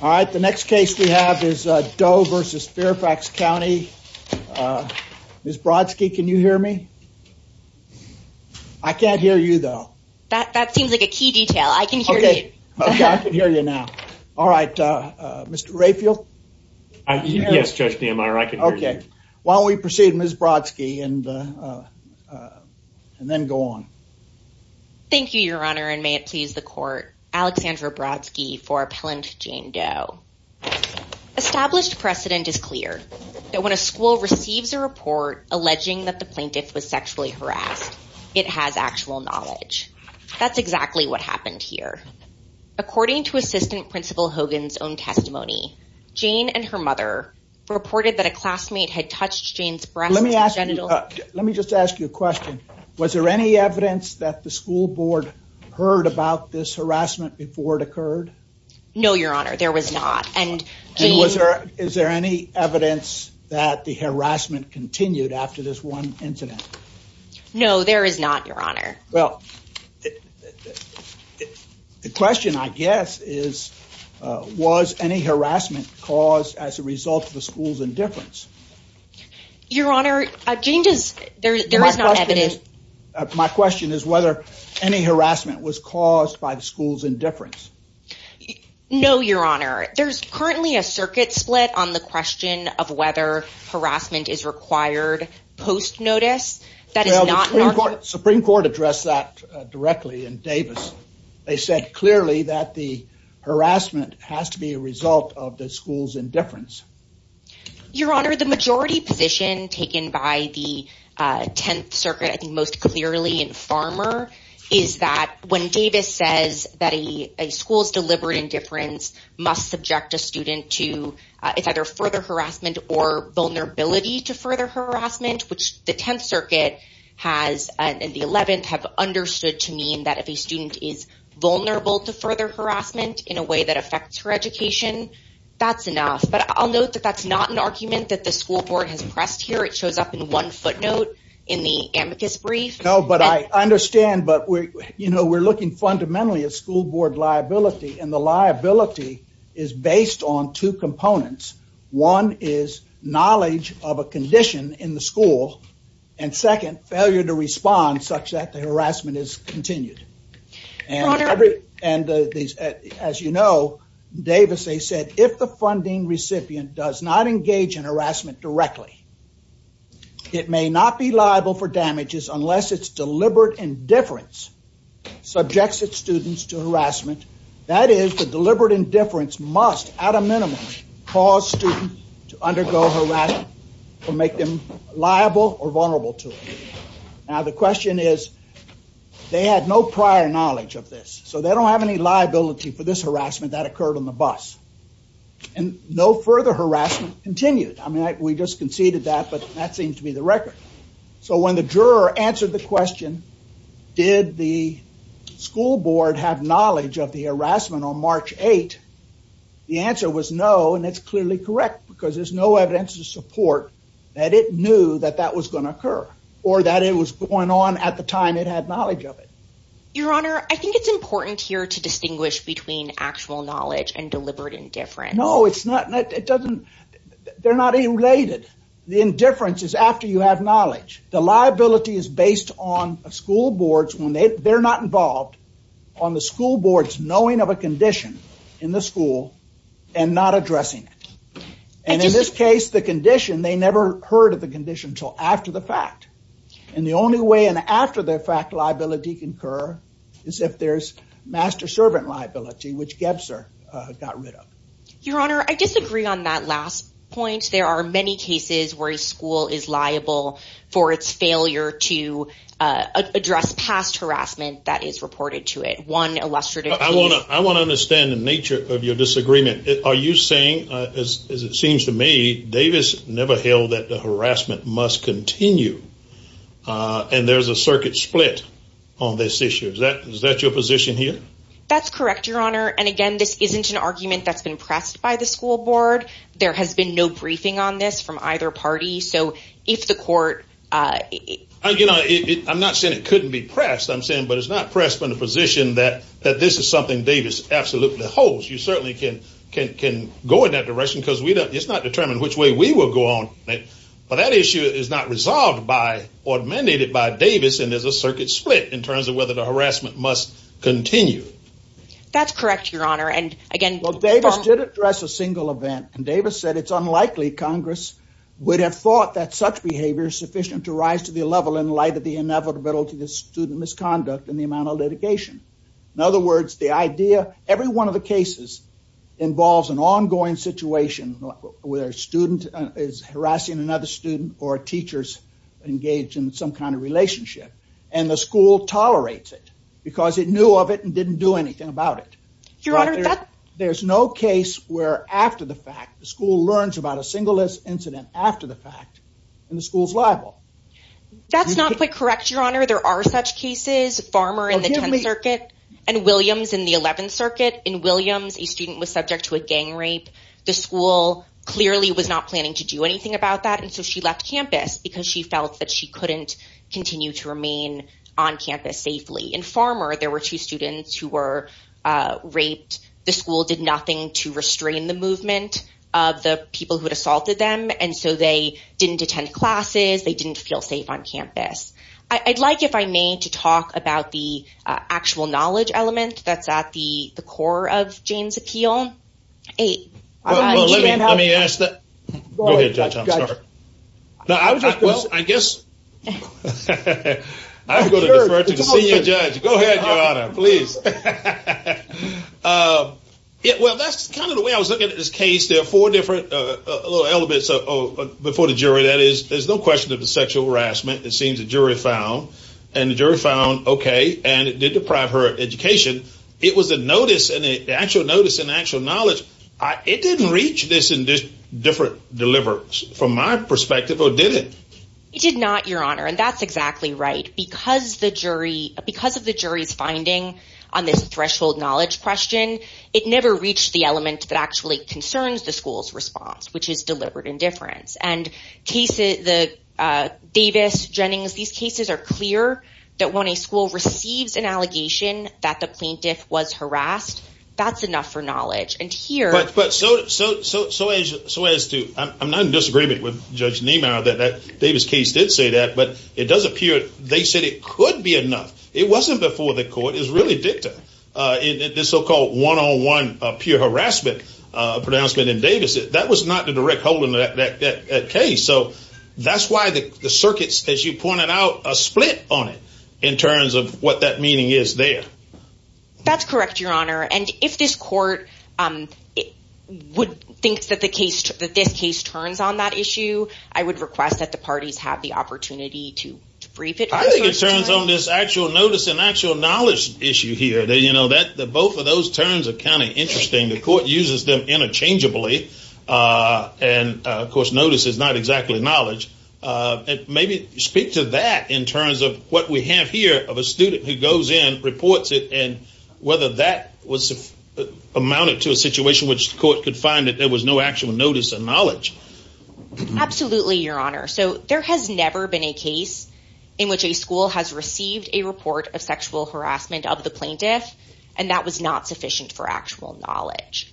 All right, the next case we have is Doe v. Fairfax County. Ms. Brodsky, can you hear me? I can't hear you, though. That seems like a key detail. I can hear you. Okay. I can hear you now. All right. Mr. Rayfield? Yes, Judge Niemeyer. I can hear you. Okay. Why don't we proceed, Ms. Brodsky, and then go on. Thank you, Your Honor, and may it please the Court, Alexandra Brodsky for Appellant Jane Doe. Established precedent is clear that when a school receives a report alleging that the plaintiff was sexually harassed, it has actual knowledge. That's exactly what happened here. According to Assistant Principal Hogan's own testimony, Jane and her mother reported that a classmate had touched Jane's breasts and genitals. Let me just ask you a question. Was there any evidence that the school board heard about this harassment before it occurred? No, Your Honor. There was not. And Jane... And was there... Is there any evidence that the harassment continued after this one incident? No, there is not, Your Honor. Well, the question, I guess, is was any harassment caused as a result of the school's indifference? Your Honor, Jane does... There is not evidence... My question is whether any harassment was caused by the school's indifference. No, Your Honor. There's currently a circuit split on the question of whether harassment is required post-notice. That is not... Well, the Supreme Court addressed that directly in Davis. They said clearly that the harassment has to be a result of the school's indifference. Your Honor, the majority position taken by the 10th Circuit, I think most clearly in Farmer, is that when Davis says that a school's deliberate indifference must subject a student to... It's either further harassment or vulnerability to further harassment, which the 10th Circuit has... And the 11th have understood to mean that if a student is vulnerable to further harassment in a way that affects her education, that's enough. Yes, but I'll note that that's not an argument that the school board has pressed here. It shows up in one footnote in the amicus brief. No, but I understand, but we're looking fundamentally at school board liability, and the liability is based on two components. One is knowledge of a condition in the school, and second, failure to respond such that the harassment is continued. Your Honor... And as you know, Davis, they said, if the funding recipient does not engage in harassment directly, it may not be liable for damages unless its deliberate indifference subjects its students to harassment. That is, the deliberate indifference must, at a minimum, cause students to undergo harassment or make them liable or vulnerable to it. Now the question is, they had no prior knowledge of this. So they don't have any liability for this harassment that occurred on the bus. And no further harassment continued. I mean, we just conceded that, but that seems to be the record. So when the juror answered the question, did the school board have knowledge of the harassment on March 8th, the answer was no, and it's clearly correct because there's no evidence to support that it knew that that was going to occur or that it was going on at the time it had knowledge of it. Your Honor, I think it's important here to distinguish between actual knowledge and deliberate indifference. No, it's not. It doesn't... They're not even related. The indifference is after you have knowledge. The liability is based on a school board's... They're not involved on the school board's knowing of a condition in the school and not addressing it. And in this case, the condition, they never heard of the condition until after the fact. And the only way an after-the-fact liability can occur is if there's master-servant liability, which Gebzer got rid of. Your Honor, I disagree on that last point. There are many cases where a school is liable for its failure to address past harassment that is reported to it. One illustrative case... I want to understand the nature of your disagreement. Are you saying, as it seems to me, Davis never held that the harassment must continue and there's a circuit split on this issue? Is that your position here? That's correct, Your Honor. And again, this isn't an argument that's been pressed by the school board. There has been no briefing on this from either party. So if the court... I'm not saying it couldn't be pressed. I'm saying, but it's not pressed from the position that this is something Davis absolutely holds. You certainly can go in that direction, because it's not determined which way we will go on. But that issue is not resolved by or mandated by Davis, and there's a circuit split in terms of whether the harassment must continue. That's correct, Your Honor. And again... Well, Davis did address a single event, and Davis said it's unlikely Congress would have thought that such behavior is sufficient to rise to the level in light of the inevitability of student misconduct and the amount of litigation. In other words, the idea... Every one of the cases involves an ongoing situation where a student is harassing another student or teachers engaged in some kind of relationship, and the school tolerates it because it knew of it and didn't do anything about it. Your Honor, that... There's no case where after the fact, the school learns about a single incident after the fact, and the school's liable. That's not quite correct, Your Honor. There are such cases. Farmer in the 10th Circuit and Williams in the 11th Circuit. In Williams, a student was subject to a gang rape. The school clearly was not planning to do anything about that, and so she left campus because she felt that she couldn't continue to remain on campus safely. In Farmer, there were two students who were raped. The school did nothing to restrain the movement of the people who had assaulted them, and so they didn't attend classes, they didn't feel safe on campus. I'd like if I may to talk about the actual knowledge element that's at the core of Jane's appeal. Wait, wait. Let me ask that... Go ahead, Judge. I'm sorry. No, I was just- Well, I guess... I prefer to see you, Judge. Go ahead, Your Honor. Please. Well, that's kind of the way I was looking at this case. There were four different little elements before the jury. That is, there's no question that it's sexual harassment. It seems the jury found, and the jury found, okay, and it did deprive her of education. It was a notice, an actual notice and actual knowledge. It didn't reach this in this different deliverance, from my perspective, or did it? It did not, Your Honor, and that's exactly right. Because of the jury's finding on this threshold knowledge question, it never reached the element that actually concerns the school's response, which is deliberate indifference. And Davis, Jennings, these cases are clear that when a school receives an allegation that the plaintiff was harassed, that's enough for knowledge. And here- But so as to... I'm not in disagreement with Judge Niemeyer that that Davis case did say that, but it does appear they said it could be enough. It wasn't before the court. It was really dicta in this so-called one-on-one pure harassment pronouncement in Davis. That was not the direct hold in that case. So that's why the circuit, as you pointed out, a split on it, in terms of what that meaning is there. That's correct, Your Honor. And if this court would think that this case turns on that issue, I would request that the parties have the opportunity to brief it- I think it turns on this actual notice and actual knowledge issue here. Both of those terms are kind of interesting. The court uses them interchangeably, and of course, notice is not exactly knowledge. Maybe speak to that in terms of what we have here of a student who goes in, reports it, and whether that amounted to a situation which the court could find that there was no actual notice or knowledge. Absolutely, Your Honor. So there has never been a case in which a school has received a report of sexual harassment of the plaintiff, and that was not sufficient for actual knowledge.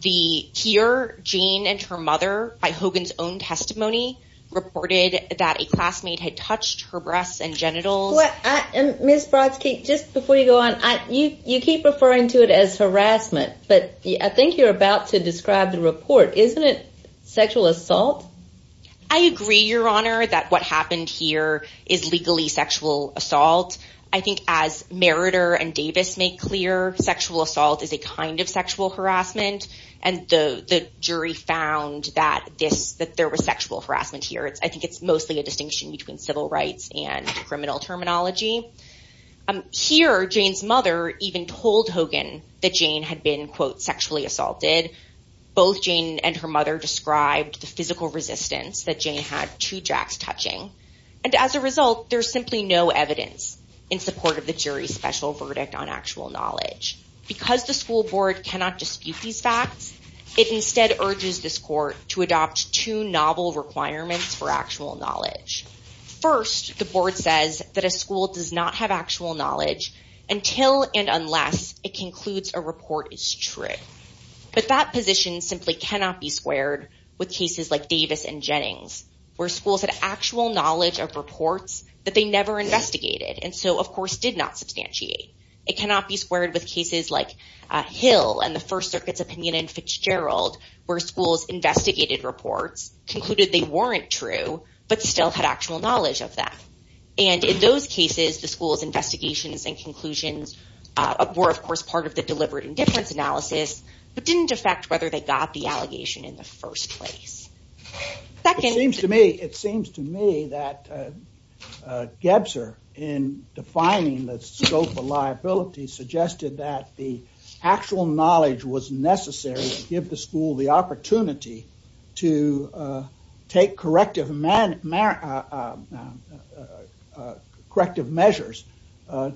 The- here, Jean and her mother, by Hogan's own testimony, reported that a classmate had touched her breasts and genitals- Well, I- Ms. Brodsky, just before you go on, you keep referring to it as harassment, but I think you're about to describe the report. Isn't it sexual assault? I agree, Your Honor, that what happened here is legally sexual assault. I think, as Meritor and Davis make clear, sexual assault is a kind of sexual harassment, and the jury found that this- that there was sexual harassment here. I think it's mostly a distinction between civil rights and criminal terminology. Here Jane's mother even told Hogan that Jane had been, quote, sexually assaulted. Both Jane and her mother described the physical resistance that Jane had to Jack's touching, and as a result, there's simply no evidence in support of the jury's special verdict on actual knowledge. Because the school board cannot dispute these facts, it instead urges this court to adopt two novel requirements for actual knowledge. First, the board says that a school does not have actual knowledge until and unless it concludes a report is true. But that position simply cannot be squared with cases like Davis and Jennings, where schools had actual knowledge of reports that they never investigated and so, of course, did not substantiate. It cannot be squared with cases like Hill and the First Circuit's opinion in Fitzgerald, where schools investigated reports, concluded they weren't true, but still had actual knowledge of them. And in those cases, the school's investigations and conclusions were, of course, part of the deliberate indifference analysis, but didn't affect whether they got the allegation in the first place. It seems to me, it seems to me that Gebser, in defining the scope of liability, suggested that the actual knowledge was necessary to give the school the opportunity to take corrective measures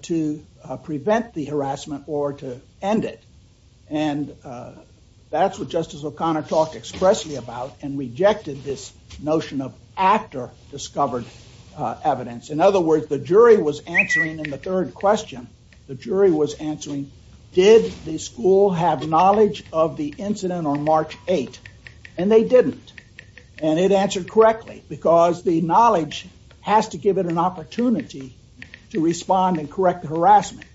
to prevent the harassment or to end it. And that's what Justice O'Connor talked expressly about and rejected this notion of after-discovered evidence. In other words, the jury was answering in the third question, the jury was answering, did the school have knowledge of the incident on March 8th? And they didn't. And it answered correctly because the knowledge has to give it an opportunity to respond and correct the harassment.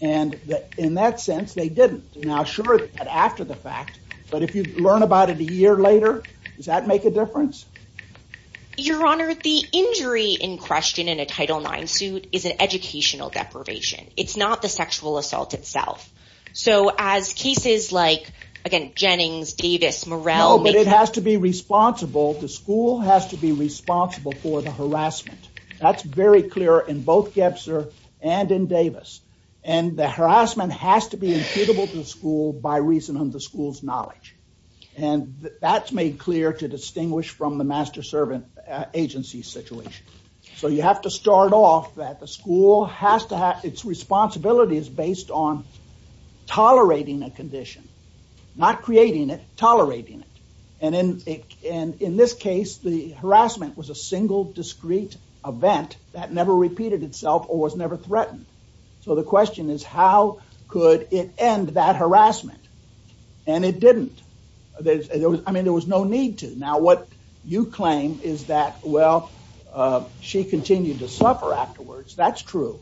And in that sense, they didn't. Now, sure, but after the fact, but if you learn about it a year later, does that make a difference? Your Honor, the injury in question in a Title IX suit is an educational deprivation. It's not the sexual assault itself. So as cases like, again, Jennings, Davis, Morrell, No, but it has to be responsible. The school has to be responsible for the harassment. That's very clear in both Gebser and in Davis. And the harassment has to be imputable to the school by reason of the school's knowledge. And that's made clear to distinguish from the master-servant agency situation. So you have to start off that the school has to have, its responsibility is based on tolerating a condition, not creating it, tolerating it. And in this case, the harassment was a single discrete event that never repeated itself or was never threatened. So the question is, how could it end that harassment? And it didn't. I mean, there was no need to. Now, what you claim is that, well, she continued to suffer afterwards. That's true.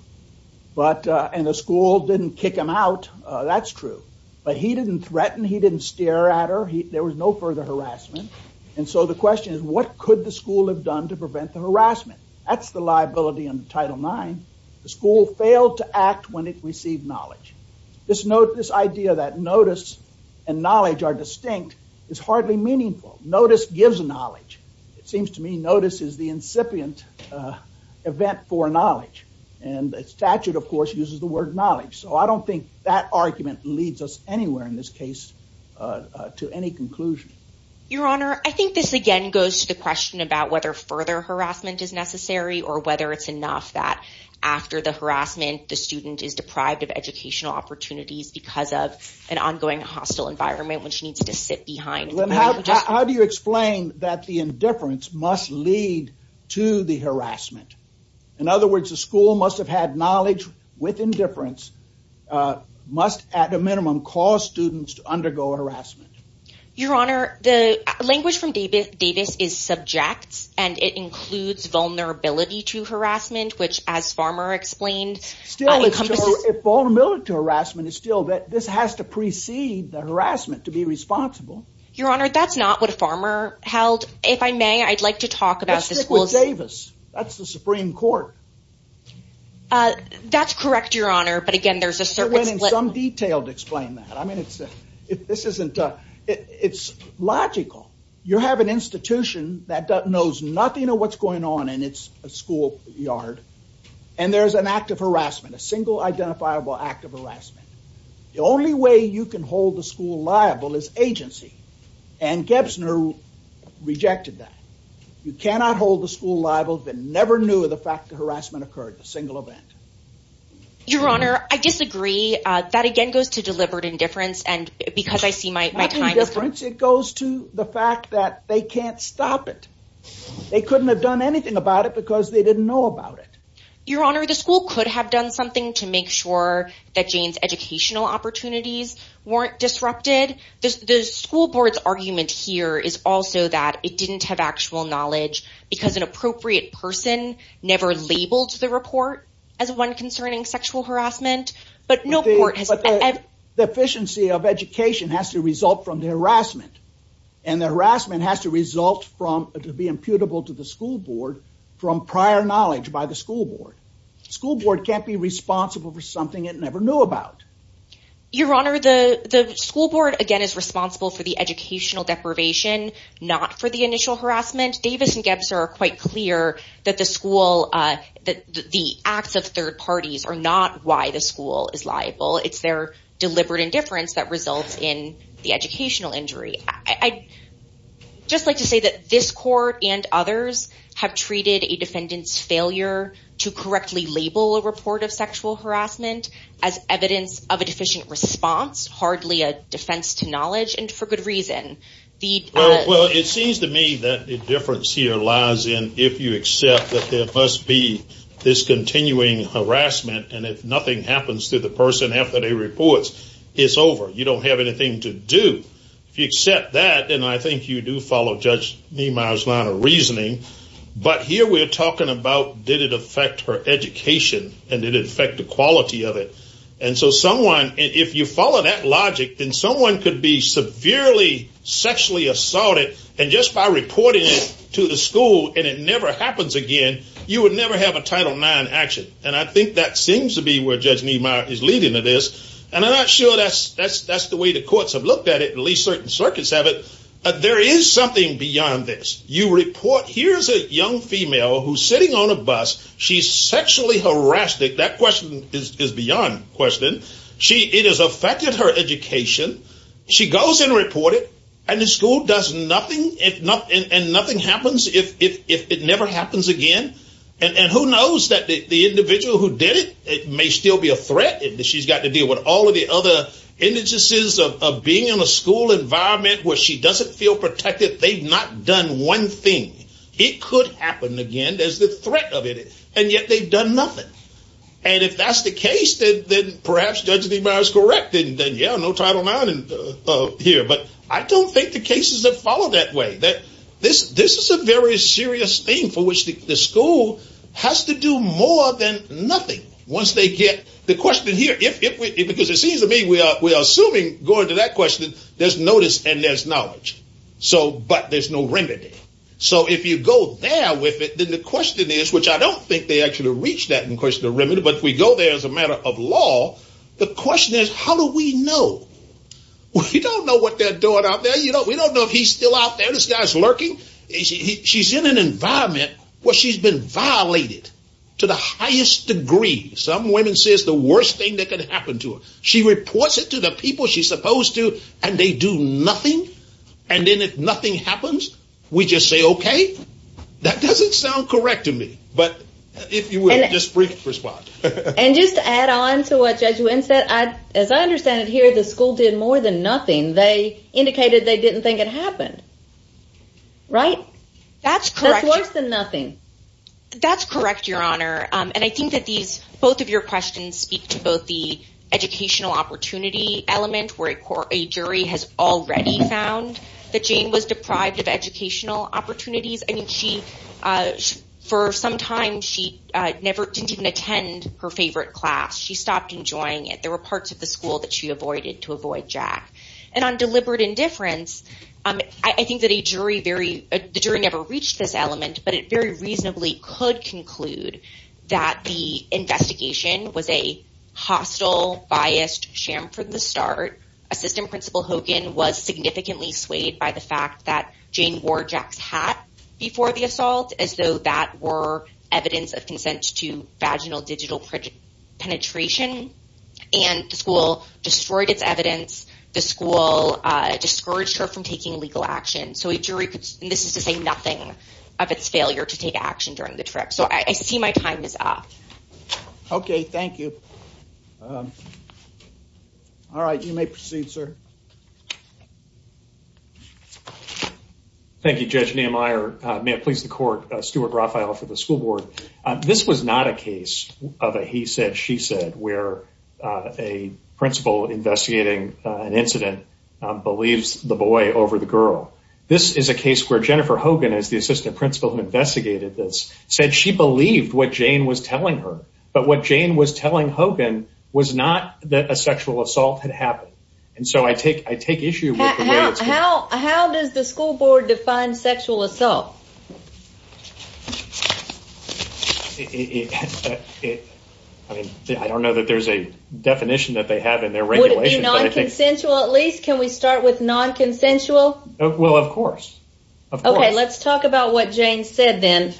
And the school didn't kick him out. That's true. But he didn't threaten. He didn't stare at her. There was no further harassment. And so the question is, what could the school have done to prevent the harassment? That's the liability under Title IX. The school failed to act when it received knowledge. This idea that notice and knowledge are distinct is hardly meaningful. Notice gives knowledge. It seems to me notice is the incipient event for knowledge. And the statute, of course, uses the word knowledge. So I don't think that argument leads us anywhere in this case to any conclusion. Your Honor, I think this again goes to the question about whether further harassment is necessary or whether it's enough that after the harassment, the student is deprived of educational opportunities because of an ongoing hostile environment which needs to sit behind. How do you explain that the indifference must lead to the harassment? In other words, the school must have had knowledge with indifference, must, at a minimum, cause students to undergo harassment. Your Honor, the language from Davis is subject. And it includes vulnerability to harassment, which, as Farmer explained, encompasses- Still, it's true. If vulnerability to harassment is still that, this has to precede the harassment to be responsible. Your Honor, that's not what Farmer held. If I may, I'd like to talk about the school's- Let's stick with Davis. That's the Supreme Court. That's correct, Your Honor. But again, there's a certain- It went in some detail to explain that. I mean, it's logical. You have an institution that knows nothing of what's going on in its school yard. And there's an act of harassment, a single identifiable act of harassment. The only way you can hold the school liable is agency. And Gebsner rejected that. You cannot hold the school liable if it never knew the fact that harassment occurred, a single event. Your Honor, I disagree. That, again, goes to deliberate indifference. And because I see my time- Not indifference. It goes to the fact that they can't stop it. They couldn't have done anything about it because they didn't know about it. Your Honor, the school could have done something to make sure that Jane's educational opportunities weren't disrupted. The school board's argument here is also that it didn't have actual knowledge because an appropriate person never labeled the report as one concerning sexual harassment. But no court has- But the efficiency of education has to result from the harassment. And the harassment has to result from- to be imputable to the school board from prior knowledge by the school board. School board can't be responsible for something it never knew about. Your Honor, the school board, again, is responsible for the educational deprivation, not for the initial harassment. Davis and Gebsner are quite clear that the school- the acts of third parties are not why the school is liable. It's their deliberate indifference that results in the educational injury. I'd just like to say that this court and others have treated a defendant's failure to correctly label a report of sexual harassment as evidence of a deficient response, hardly a defense to knowledge, and for good reason. Well, it seems to me that the difference here lies in if you accept that there must be this continuing harassment. And if nothing happens to the person after they report, it's over. You don't have anything to do. If you accept that, and I think you do follow Judge Niemeyer's line of reasoning. But here we're talking about did it affect her education? And did it affect the quality of it? And so someone, if you follow that logic, then someone could be severely sexually assaulted. And just by reporting it to the school and it never happens again, you would never have a Title IX action. And I think that seems to be where Judge Niemeyer is leading to this. And I'm not sure that's the way the courts have looked at it, at least certain circuits have it. There is something beyond this. You report, here's a young female who's sitting on a bus. She's sexually harassed. That question is beyond question. She, it has affected her education. She goes and report it. And the school does nothing, and nothing happens if it never happens again. And who knows that the individual who did it, it may still be a threat. She's got to deal with all of the other indices of being in a school environment where she doesn't feel protected. They've not done one thing. It could happen again. There's the threat of it. And yet they've done nothing. And if that's the case, then perhaps Judge Niemeyer is correct. And then, yeah, no Title IX here. But I don't think the cases have followed that way. That this is a very serious thing for which the school has to do more than nothing once they get the question here. Because it seems to me we are assuming going to that question, there's notice and there's knowledge. So, but there's no remedy. So if you go there with it, then the question is, which I don't think they actually reach that in question of remedy. But if we go there as a matter of law, the question is, how do we know? We don't know what they're doing out there. You know, we don't know if he's still out there. This guy's lurking. She's in an environment where she's been violated to the highest degree. Some women say it's the worst thing that could happen to her. She reports it to the people she's supposed to. And they do nothing. And then if nothing happens, we just say, OK, that doesn't sound correct to me. But if you will, just brief response. And just to add on to what Judge Wynn said, as I understand it here, the school did more than nothing. They indicated they didn't think it happened, right? That's correct. That's worse than nothing. That's correct, Your Honor. And I think that these, both of your questions speak to both the educational opportunity element, where a jury has already found that Jane was deprived of educational opportunities. I mean, for some time, she didn't even attend her favorite class. She stopped enjoying it. There were parts of the school that she avoided to avoid Jack. And on deliberate indifference, I think that the jury never reached this element, but it very reasonably could conclude that the investigation was a hostile, biased sham from the start. Assistant Principal Hogan was significantly swayed by the fact that Jane wore Jack's hat before the assault, as though that were evidence of consent to vaginal digital penetration. And the school destroyed its evidence. The school discouraged her from taking legal action. This is to say nothing of its failure to take action during the trip. So I see my time is up. Okay, thank you. All right, you may proceed, sir. Thank you, Judge Nehemiah. May it please the court, Stuart Raphael for the school board. This was not a case of a he said, she said, where a principal investigating an incident believes the boy over the girl. This is a case where Jennifer Hogan is the assistant principal who investigated this said she believed what Jane was telling her. But what Jane was telling Hogan was not that a sexual assault had happened. And so I take I take issue. How does the school board define sexual assault? I mean, I don't know that there's a definition that they have in their regulations. I think sensual at least. Can we start with non consensual? Well, of course. Okay, let's talk about what Jane said. Then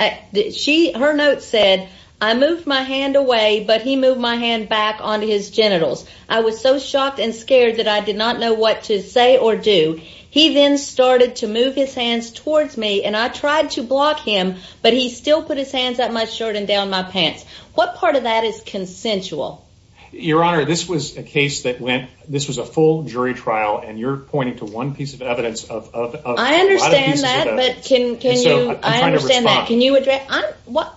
she her note said, I moved my hand away, but he moved my hand back on his genitals. I was so shocked and scared that I did not know what to say or do. He then started to move his hands towards me and I tried to block him, but he still put his hands up my shirt and down my pants. What part of that is consensual? Your Honor, this was a case that went this was a full jury trial. And you're pointing to one piece of evidence of I understand that. But can I understand that? Can you address what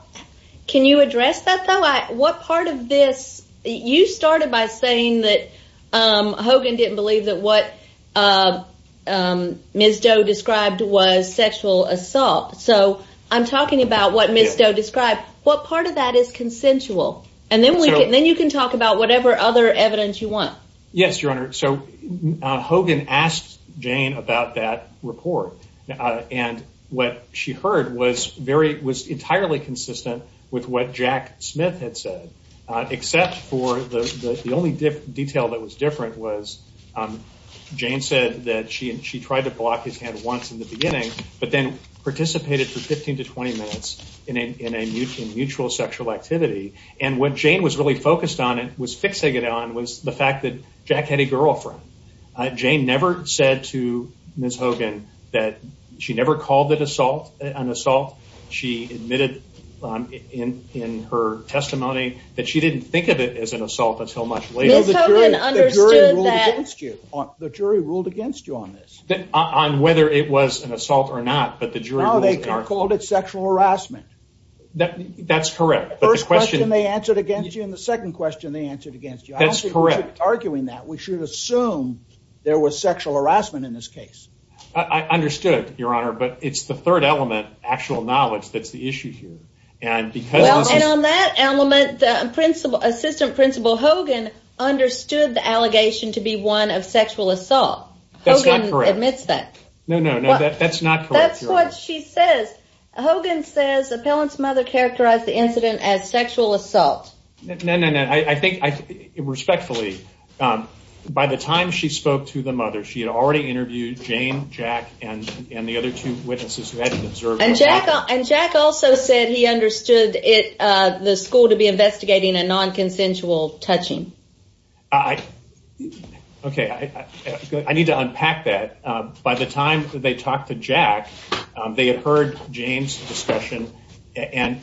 can you address that, though? What part of this? You started by saying that Hogan didn't believe that what Ms. Doe described was sexual assault. So I'm talking about what Ms. Doe described. What part of that is consensual? Yes, Your Honor. So Hogan asked Jane about that report. And what she heard was entirely consistent with what Jack Smith had said, except for the only detail that was different was Jane said that she tried to block his hand once in the beginning, but then participated for 15 to 20 minutes in a mutual sexual activity. And what Jane was really focused on and was fixing it on was the fact that Jack had a girlfriend. Jane never said to Ms. Hogan that she never called it assault, an assault. She admitted in her testimony that she didn't think of it as an assault until much later. Ms. Hogan understood that. The jury ruled against you on this. On whether it was an assault or not. But the jury called it sexual harassment. That's correct. First question they answered against you. And the second question they answered against you. That's correct. Arguing that we should assume there was sexual harassment in this case. I understood, Your Honor. But it's the third element, actual knowledge, that's the issue here. And on that element, the assistant principal Hogan understood the allegation to be one of sexual assault. Hogan admits that. No, no, no, that's not correct. That's what she says. Hogan says the appellant's mother characterized the incident as sexual assault. No, no, no. I think, respectfully, by the time she spoke to the mother, she had already interviewed Jane, Jack, and the other two witnesses who hadn't observed. And Jack also said he understood the school to be investigating a non-consensual touching. Okay, I need to unpack that. By the time they talked to Jack, they had heard Jane's discussion and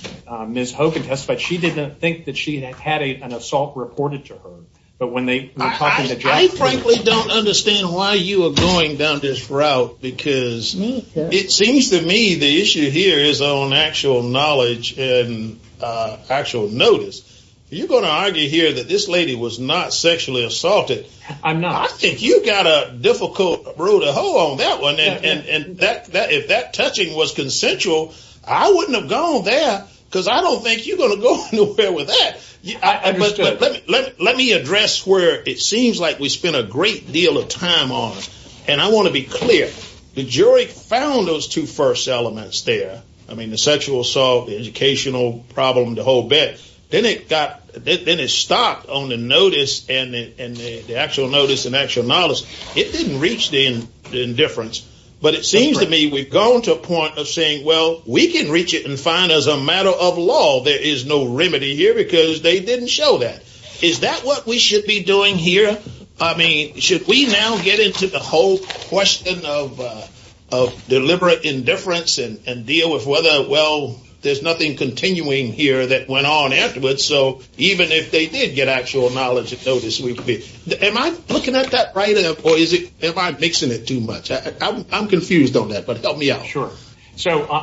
Ms. Hogan testified she didn't think that she had had an assault reported to her. But when they were talking to Jack... I frankly don't understand why you are going down this route, because it seems to me the issue here is on actual knowledge and actual notice. You're going to argue here that this lady was not sexually assaulted. I'm not. I think you've got a difficult road to hoe on that one. And if that touching was consensual, I wouldn't have gone there because I don't think you're going to fare with that. Let me address where it seems like we spent a great deal of time on. And I want to be clear. The jury found those two first elements there. I mean, the sexual assault, the educational problem, the whole bit. Then it stopped on the notice and the actual notice and actual knowledge. It didn't reach the indifference. But it seems to me we've gone to a point of saying, well, we can reach it and find as a matter of law, there is no remedy here because they didn't show that. Is that what we should be doing here? I mean, should we now get into the whole question of deliberate indifference and deal with whether, well, there's nothing continuing here that went on afterwards. So even if they did get actual knowledge and notice, we'd be... Am I looking at that right or am I mixing it too much? I'm confused on that, but help me out. Sure. So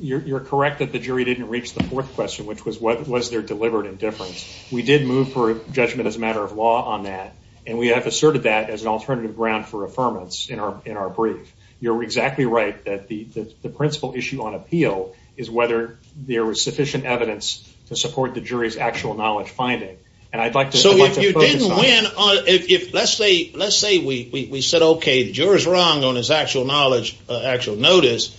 you're correct that the jury didn't reach the fourth question, which was what was their deliberate indifference. We did move for judgment as a matter of law on that. And we have asserted that as an alternative ground for affirmance in our brief. You're exactly right that the principal issue on appeal is whether there was sufficient evidence to support the jury's actual knowledge finding. And I'd like to... So if you didn't win, let's say we said, okay, the juror's wrong on his actual knowledge, actual notice.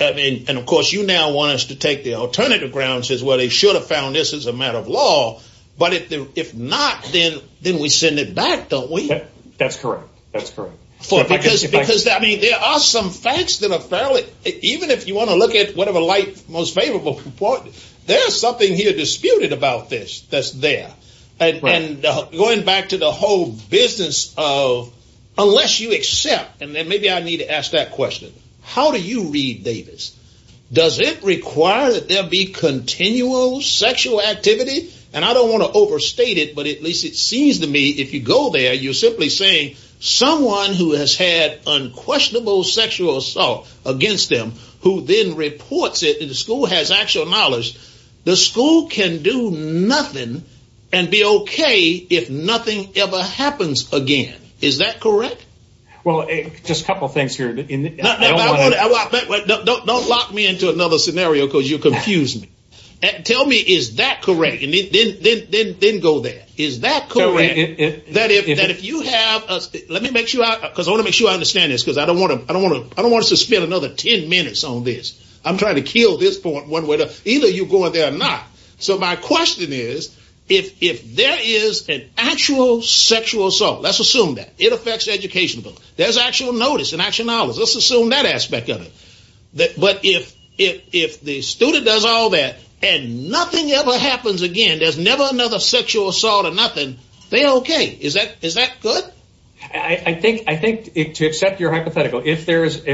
And of course, you now want us to take the alternative grounds as well. They should have found this as a matter of law. But if not, then we send it back, don't we? That's correct. That's correct. For because, I mean, there are some facts that are fairly... Even if you want to look at whatever light most favorable report, there's something here disputed about this that's there. And going back to the whole business of unless you accept... And maybe I need to ask that question. How do you read Davis? Does it require that there be continual sexual activity? And I don't want to overstate it, but at least it seems to me if you go there, you're simply saying someone who has had unquestionable sexual assault against them, who then reports it and the school has actual knowledge, the school can do nothing and be okay if nothing ever happens again. Is that correct? Well, just a couple of things here. Don't lock me into another scenario because you'll confuse me. Tell me, is that correct? And then go there. Is that correct? Let me make sure I understand this because I don't want to spend another 10 minutes on this. I'm trying to kill this point one way or the other. Either you go in there or not. So my question is, if there is an actual sexual assault, let's assume that. It affects educational. There's actual notice and actual knowledge. Let's assume that aspect of it. But if the student does all that and nothing ever happens again, there's never another sexual assault or nothing. They're okay. Is that good? I think to accept your hypothetical, if there's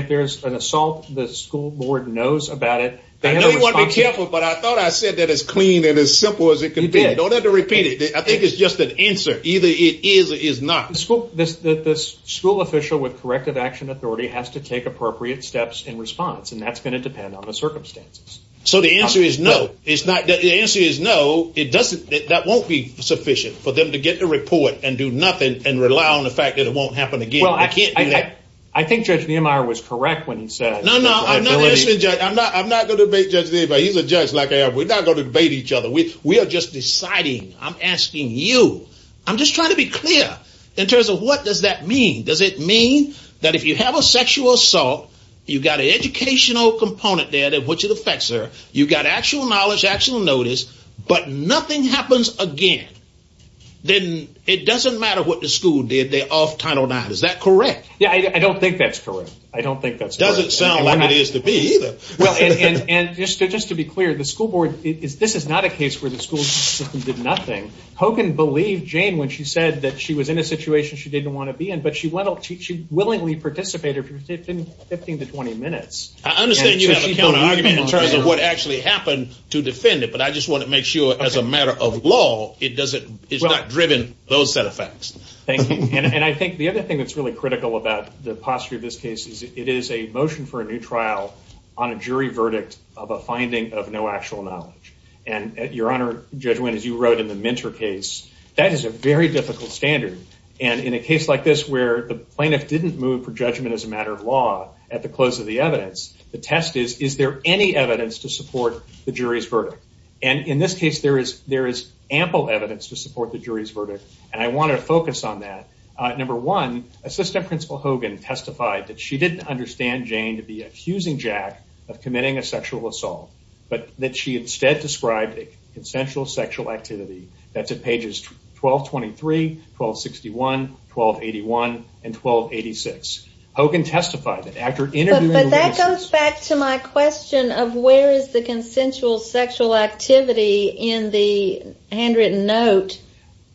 an assault, the school board knows about it. I know you want to be careful, but I thought I said that as clean and as simple as it can be. I don't have to repeat it. I think it's just an answer. Either it is or it is not. This school official with corrective action authority has to take appropriate steps in response. And that's going to depend on the circumstances. So the answer is no. The answer is no. It doesn't. That won't be sufficient for them to get the report and do nothing and rely on the fact that it won't happen again. Well, I can't do that. I think Judge Niemeyer was correct when he said. No, no, I'm not going to debate Judge Niemeyer. He's a judge like I am. We're not going to debate each other. We are just deciding. I'm asking you. I'm just trying to be clear. In terms of what does that mean? Does it mean that if you have a sexual assault, you've got an educational component there, which it affects her. You've got actual knowledge, actual notice. But nothing happens again. Then it doesn't matter what the school did. They're off title nine. Is that correct? Yeah, I don't think that's correct. I don't think that's doesn't sound like it is to be either. Well, and just to be clear, the school board is this is not a case where the school system did nothing. Hogan believed Jane when she said that she was in a situation she didn't want to be in, but she willingly participated for 15 to 20 minutes. I understand you have a counter argument in terms of what actually happened to defend it. But I just want to make sure as a matter of law, it's not driven those set of facts. Thank you. And I think the other thing that's really critical about the posture of this case is it is a motion for a new trial on a jury verdict of a finding of no actual knowledge. And your Honor, Judge Wynn, as you wrote in the Minter case, that is a very difficult standard. And in a case like this, where the plaintiff didn't move for judgment as a matter of law at the close of the evidence, the test is, is there any evidence to support the jury's verdict? And in this case, there is there is ample evidence to support the jury's verdict. And I want to focus on that. Number one, Assistant Principal Hogan testified that she didn't understand Jane to be accusing Jack of committing a sexual assault, but that she instead described a consensual sexual activity. That's at pages 1223, 1261, 1281, and 1286. Hogan testified that after interviewing. But that comes back to my question of where is the consensual sexual activity in the handwritten note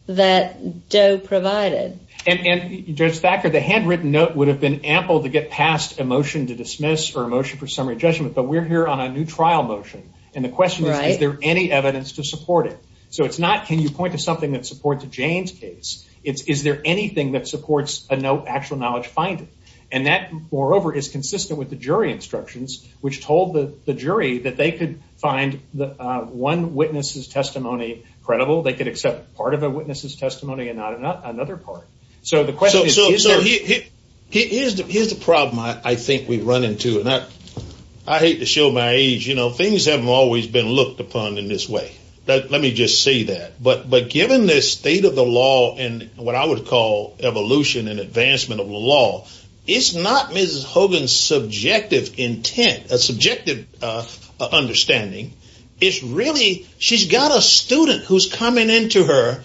that Doe provided? And Judge Thacker, the handwritten note would have been ample to get past a motion to dismiss or a motion for summary judgment. But we're here on a new trial motion. And the question is, is there any evidence to support it? So it's not, can you point to something that supports Jane's case? It's, is there anything that supports a no actual knowledge finding? And that, moreover, is consistent with the jury instructions, which told the jury that they could find the one witness's testimony credible. They could accept part of a witness's testimony and not another part. So the question is, is there? Here's the problem I think we've run into. And I hate to show my age. You know, things haven't always been looked upon in this way. Let me just say that. But given this state of the law and what I would call evolution and advancement of the law, it's not Mrs. Hogan's subjective intent, a subjective understanding. It's really, she's got a student who's coming into her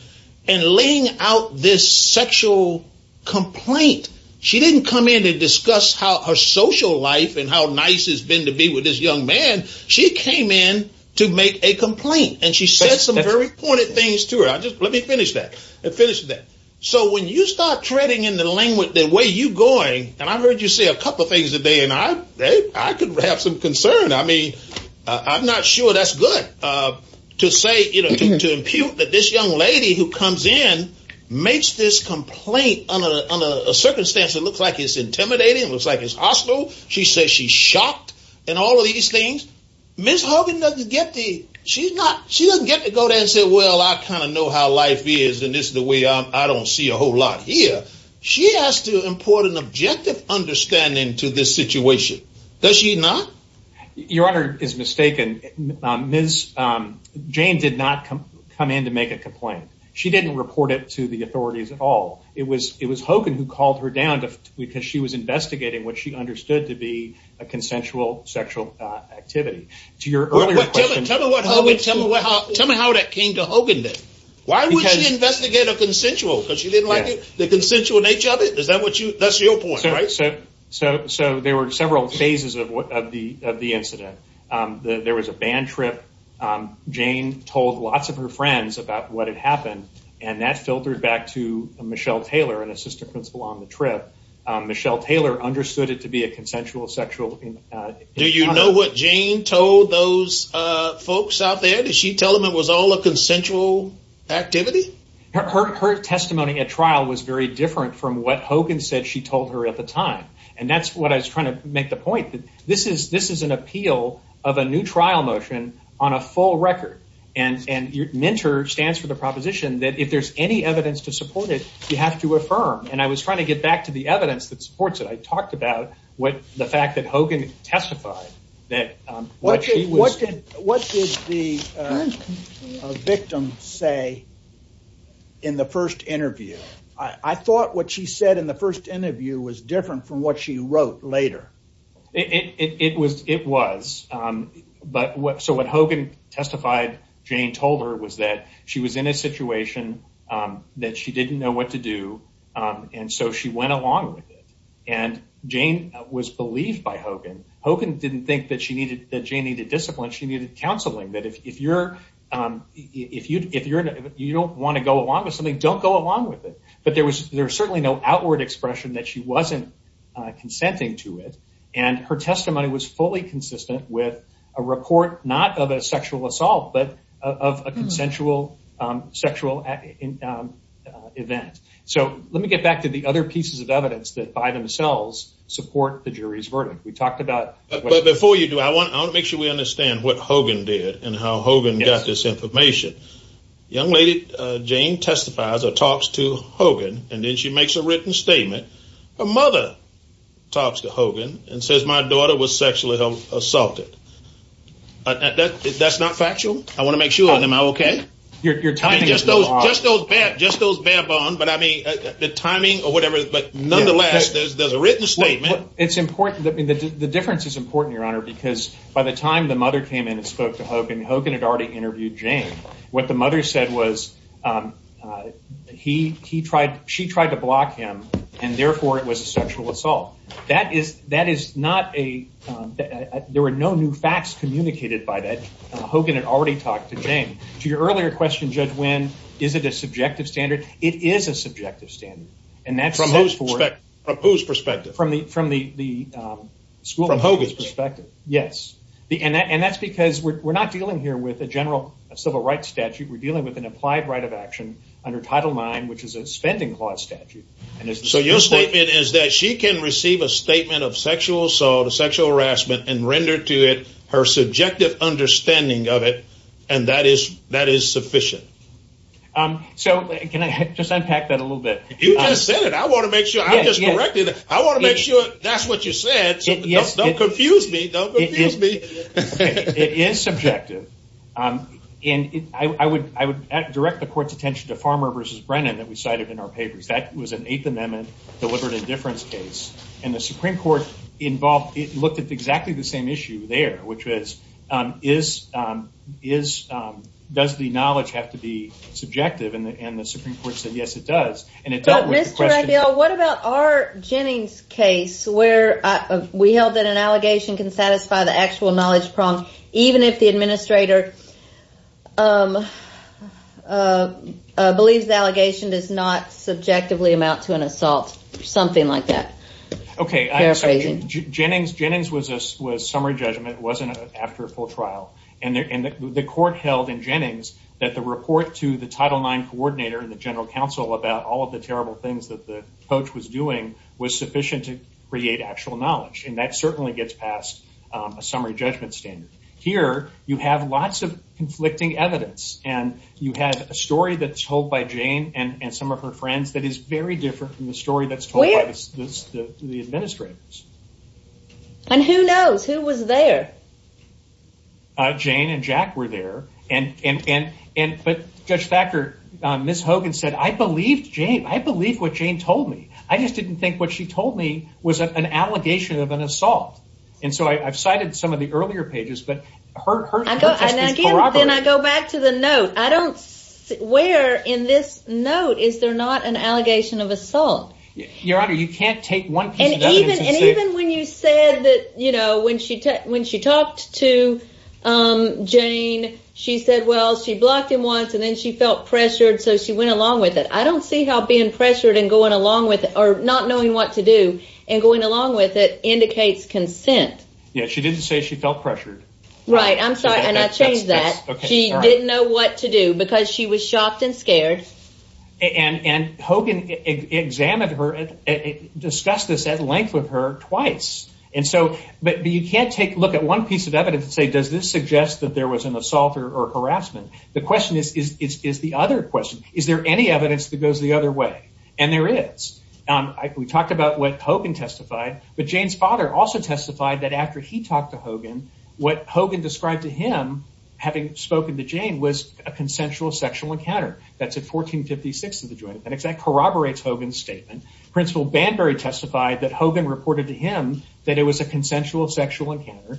and laying out this sexual complaint. She didn't come in to discuss how her social life and how nice it's been to be with this young man. She came in to make a complaint and she said some very pointed things to her. I just, let me finish that and finish that. So when you start treading in the lane with the way you going, and I've heard you say a couple of things today and I, I could have some concern. I mean, I'm not sure that's good to say, you know, to impute that this young lady who comes in makes this complaint on a, on a circumstance that looks like it's intimidating. It looks like it's hostile. She says she's shocked and all of these things. Ms. Hogan doesn't get the, she's not, she doesn't get to go there and say, well, I kind of know how life is and this is the way I don't see a whole lot here. She has to import an objective understanding to this situation. Does she not? Your honor is mistaken. Ms. Jane did not come in to make a complaint. She didn't report it to the authorities at all. It was, it was Hogan who called her down because she was investigating what she understood to be a consensual sexual activity to your earlier question. Tell me how that came to Hogan then. Why would she investigate a consensual? Because she didn't like the consensual nature of it. Is that what you, that's your point, right? So, so, so there were several phases of what, of the, of the incident. There was a band trip. Jane told lots of her friends about what had happened and that filtered back to Michelle Taylor and assistant principal on the trip. Michelle Taylor understood it to be a consensual sexual. Do you know what Jane told those folks out there? Did she tell them it was all a consensual activity? Her testimony at trial was very different from what Hogan said she told her at the time. And that's what I was trying to make the point that this is, this is an appeal of a new trial motion on a full record. And, and your mentor stands for the proposition that if there's any evidence to support it, you have to affirm. And I was trying to get back to the evidence that supports it. I talked about what the fact that Hogan testified that. What did the victim say in the first interview? I thought what she said in the first interview was different from what she wrote later. It was, it was. But what, so what Hogan testified, Jane told her was that she was in a situation that she didn't know what to do. And so she went along with it. And Jane was believed by Hogan. Hogan didn't think that she needed, that Jane needed discipline. She needed counseling that if you're, if you, if you're, you don't want to go along with something, don't go along with it. But there was, there was certainly no outward expression that she wasn't consenting to it. And her testimony was fully consistent with a report, not of a sexual assault, but of a consensual sexual event. So let me get back to the other pieces of evidence that by themselves support the jury's verdict. We talked about. But before you do, I want to make sure we understand what Hogan did and how Hogan got this information. Young lady, Jane testifies or talks to Hogan. And then she makes a written statement. Her mother talks to Hogan and says, my daughter was sexually assaulted. That's not factual. I want to make sure, am I okay? You're timing is off. Just those bare bones. But I mean, the timing or whatever, but nonetheless, there's a written statement. It's important. The difference is important, Your Honor, because by the time the mother came in and spoke to Hogan, Hogan had already interviewed Jane. What the mother said was he tried. She tried to block him. And therefore, it was a sexual assault. That is that is not a there were no new facts communicated by that. Hogan had already talked to Jane to your earlier question. Judge, when is it a subjective standard? It is a subjective standard. And that's from whose perspective, from the from the school, Hogan's perspective. Yes, and that's because we're not dealing here with a general civil rights statute. We're dealing with an applied right of action under Title IX, which is a spending clause statute. And so your statement is that she can receive a statement of sexual assault, sexual harassment and render to it her subjective understanding of it. And that is that is sufficient. So can I just unpack that a little bit? You just said it. I want to make sure I'm just corrected. I want to make sure that's what you said. Don't confuse me. It is subjective. And I would I would direct the court's attention to Farmer versus Brennan that we cited in our papers. That was an Eighth Amendment deliberate indifference case. And the Supreme Court involved it looked at exactly the same issue there, which is is does the knowledge have to be subjective? And the Supreme Court said, yes, it does. And it's not Mr. Abel. What about our Jennings case where we held that an allegation can satisfy the actual knowledge prong, even if the administrator believes the allegation does not subjectively amount to an assault or something like that? OK, Jennings Jennings was a summary judgment. It wasn't after a full trial. And the court held in Jennings that the report to the Title IX coordinator and the general counsel about all of the terrible things that the coach was doing was sufficient to create actual knowledge. And that certainly gets past a summary judgment standard. Here you have lots of conflicting evidence. And you had a story that's told by Jane and some of her friends that is very different from the story that's told by the administrators. And who knows who was there? Jane and Jack were there. And but Judge Thacker, Miss Hogan said, I believe Jane. I believe what Jane told me. I just didn't think what she told me was an allegation of an assault. And so I've cited some of the earlier pages. But then I go back to the note. I don't where in this note, is there not an allegation of assault? Your Honor, you can't take one and even when you said that, you know, when she when she talked to Jane, she said, well, she blocked him once and then she felt pressured. So she went along with it. I don't see how being pressured and going along with it or not knowing what to do and going along with it indicates consent. Yeah, she didn't say she felt pressured. Right. I'm sorry. And I changed that. She didn't know what to do because she was shocked and scared. And Hogan examined her and discussed this at length with her twice. And so but you can't take a look at one piece of evidence and say, does this suggest that there was an assault or harassment? The question is, is the other question, is there any evidence that goes the other way? And there is. We talked about what Hogan testified. But Jane's father also testified that after he talked to Hogan, what Hogan described to him having spoken to Jane was a consensual sexual encounter. That's at 1456 of the Joint Appendix. That corroborates Hogan's statement. Principal Banbury testified that Hogan reported to him that it was a consensual sexual encounter.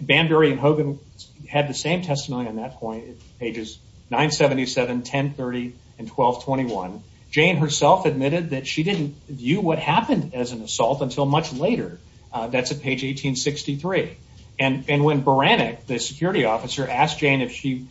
Banbury and Hogan had the same testimony on that point, pages 977, 1030, and 1221. Jane herself admitted that she didn't view what happened as an assault until much later. That's at page 1863. And when Beranek, the security officer, asked Jane if she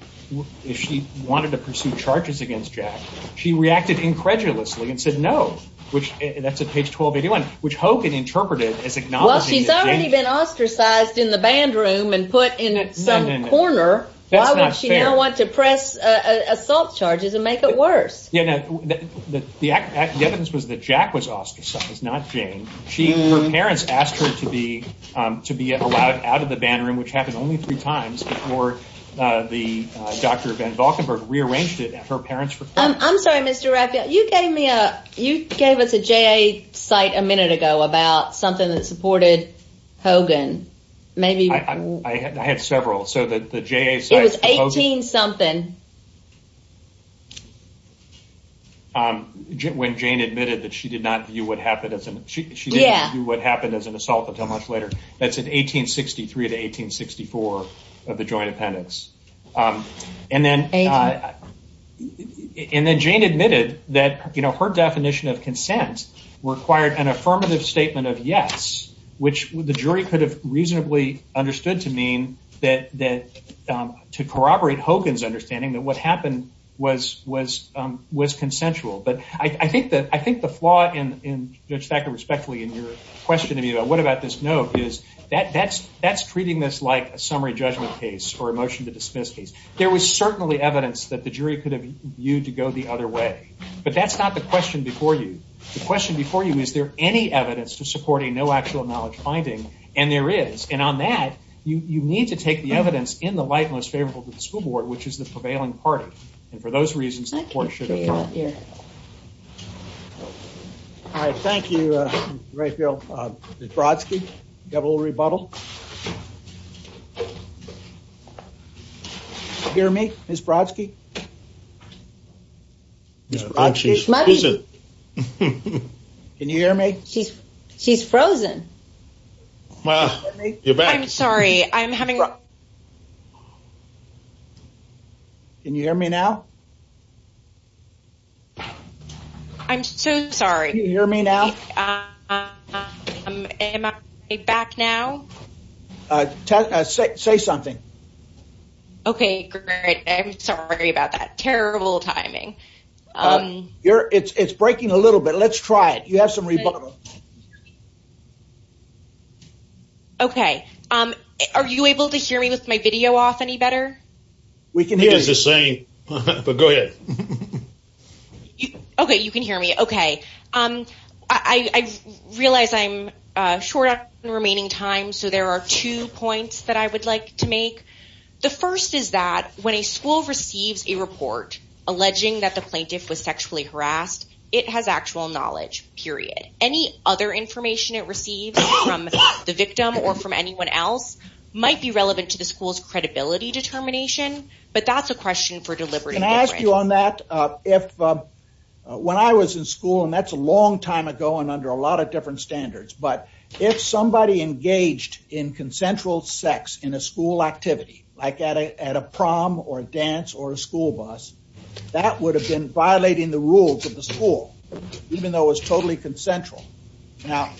wanted to pursue charges against Jack, she reacted incredulously and said no. Which, that's at page 1281, which Hogan interpreted as acknowledging that Jane- Well, she's already been ostracized in the band room and put in some corner. Why would she now want to press assault charges and make it worse? Yeah, no, the evidence was that Jack was ostracized, not Jane. She, her parents asked her to be allowed out of the band room, which happened only three times before Dr. Van Valkenburgh rearranged it at her parents' request. I'm sorry, Mr. Raphael. You gave me a, you gave us a JA site a minute ago about something that supported Hogan. Maybe- I had several. So, the JA site- It was 18-something. When Jane admitted that she did not view what happened as an- She didn't view what happened as an assault until much later. That's at 1863 to 1864 of the joint appendix. And then- And then Jane admitted that, you know, her definition of consent required an affirmative statement of yes, which the jury could have reasonably understood to mean that to corroborate Hogan's understanding that what happened was consensual. But I think that, I think the flaw in, Judge Thacker, respectfully, in your question to me is that that's, that's treating this like a summary judgment case or a motion to dismiss case. There was certainly evidence that the jury could have viewed to go the other way. But that's not the question before you. The question before you, is there any evidence to support a no actual knowledge finding? And there is. And on that, you need to take the evidence in the light most favorable to the school board, which is the prevailing party. And for those reasons, the court should- All right. Thank you, Raphael Brodsky. Double rebuttal. Hear me, Ms. Brodsky? Can you hear me? She's, she's frozen. Well, you're back. I'm sorry. I'm having- Can you hear me now? I'm so sorry. Can you hear me now? Am I back now? Say something. Okay, great. I'm sorry about that. Terrible timing. You're, it's breaking a little bit. Let's try it. You have some rebuttal. Okay. Are you able to hear me with my video off any better? We can hear you. It's the same, but go ahead. Okay, you can hear me. Okay. I realize I'm short on remaining time. So there are two points that I would like to make. The first is that when a school receives a report alleging that the plaintiff was sexually harassed, it has actual knowledge, period. Any other information it receives from the victim or from anyone else might be relevant to the school's credibility determination. But that's a question for deliberate- Can I ask you on that? If when I was in school, and that's a long time ago and under a lot of different standards, but if somebody engaged in consensual sex in a school activity, like at a prom or a dance or a school bus, that would have been violating the rules of the school, even though it was totally consensual. Now,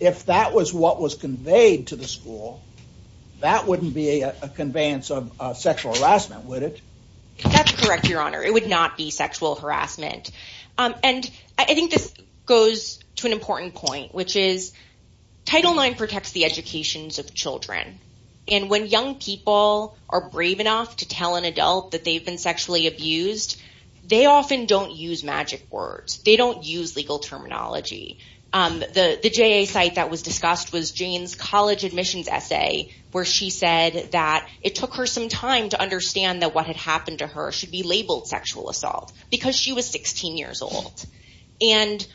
if that was what was conveyed to the school, that wouldn't be a conveyance of sexual harassment, would it? That's correct, Your Honor. It would not be sexual harassment. And I think this goes to an important point, which is Title IX protects the educations of children. And when young people are brave enough to tell an adult that they've been sexually abused, they often don't use magic words. They don't use legal terminology. The JA site that was discussed was Jane's college admissions essay, where she said that it took her some time to understand that what had happened to her should be labeled sexual assault, because she was 16 years old. And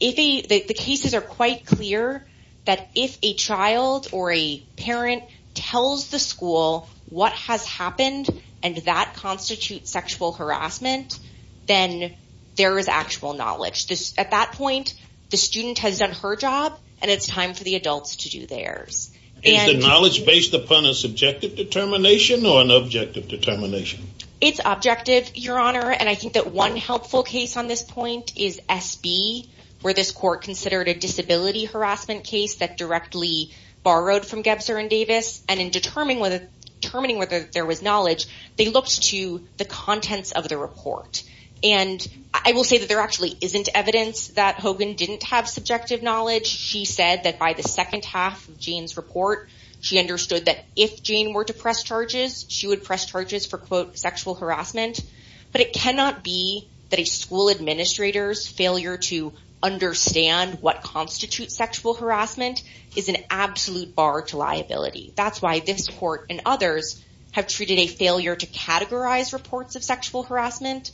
the cases are quite clear that if a child or a parent tells the school what has happened and that constitutes sexual harassment, then there is actual knowledge. At that point, the student has done her job and it's time for the adults to do theirs. Is the knowledge based upon a subjective determination or an objective determination? It's objective, Your Honor. And I think that one helpful case on this point is SB, where this court considered a disability harassment case that directly borrowed from Gebzer and Davis. And in determining whether there was knowledge, they looked to the contents of the report. And I will say that there actually isn't evidence that Hogan didn't have subjective knowledge. She said that by the second half of Jane's report, she understood that if Jane were to press charges, she would press charges for, quote, sexual harassment. But it cannot be that a school administrator's failure to understand what constitutes sexual harassment is an absolute bar to liability. That's why this court and others have treated a failure to categorize reports of sexual harassment.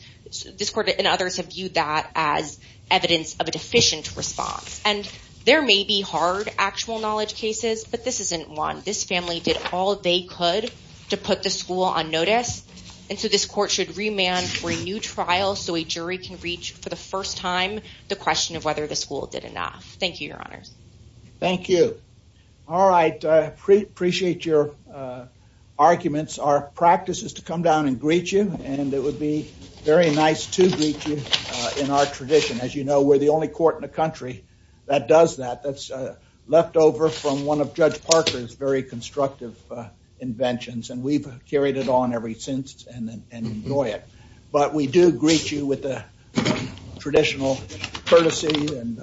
This court and others have viewed that as evidence of a deficient response. And there may be hard actual knowledge cases, but this isn't one. This family did all they could to put the school on notice. And so this court should remand for a new trial so a jury can reach for the first time the question of whether the school did enough. Thank you, Your Honors. Thank you. All right. Appreciate your arguments. Our practice is to come down and greet you, and it would be very nice to greet you in our tradition. As you know, we're the only court in the country that does that. That's left over from one of Judge Parker's very constructive inventions. And we've carried it on ever since and enjoy it. But we do greet you with the traditional courtesy and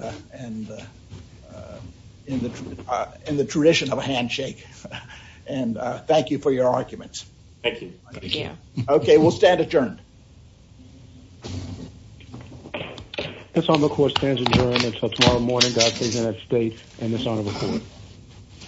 in the tradition of a handshake. And thank you for your arguments. Thank you. OK, we'll stand adjourned. This court stands adjourned until tomorrow morning. That is an upstate and dishonorable court.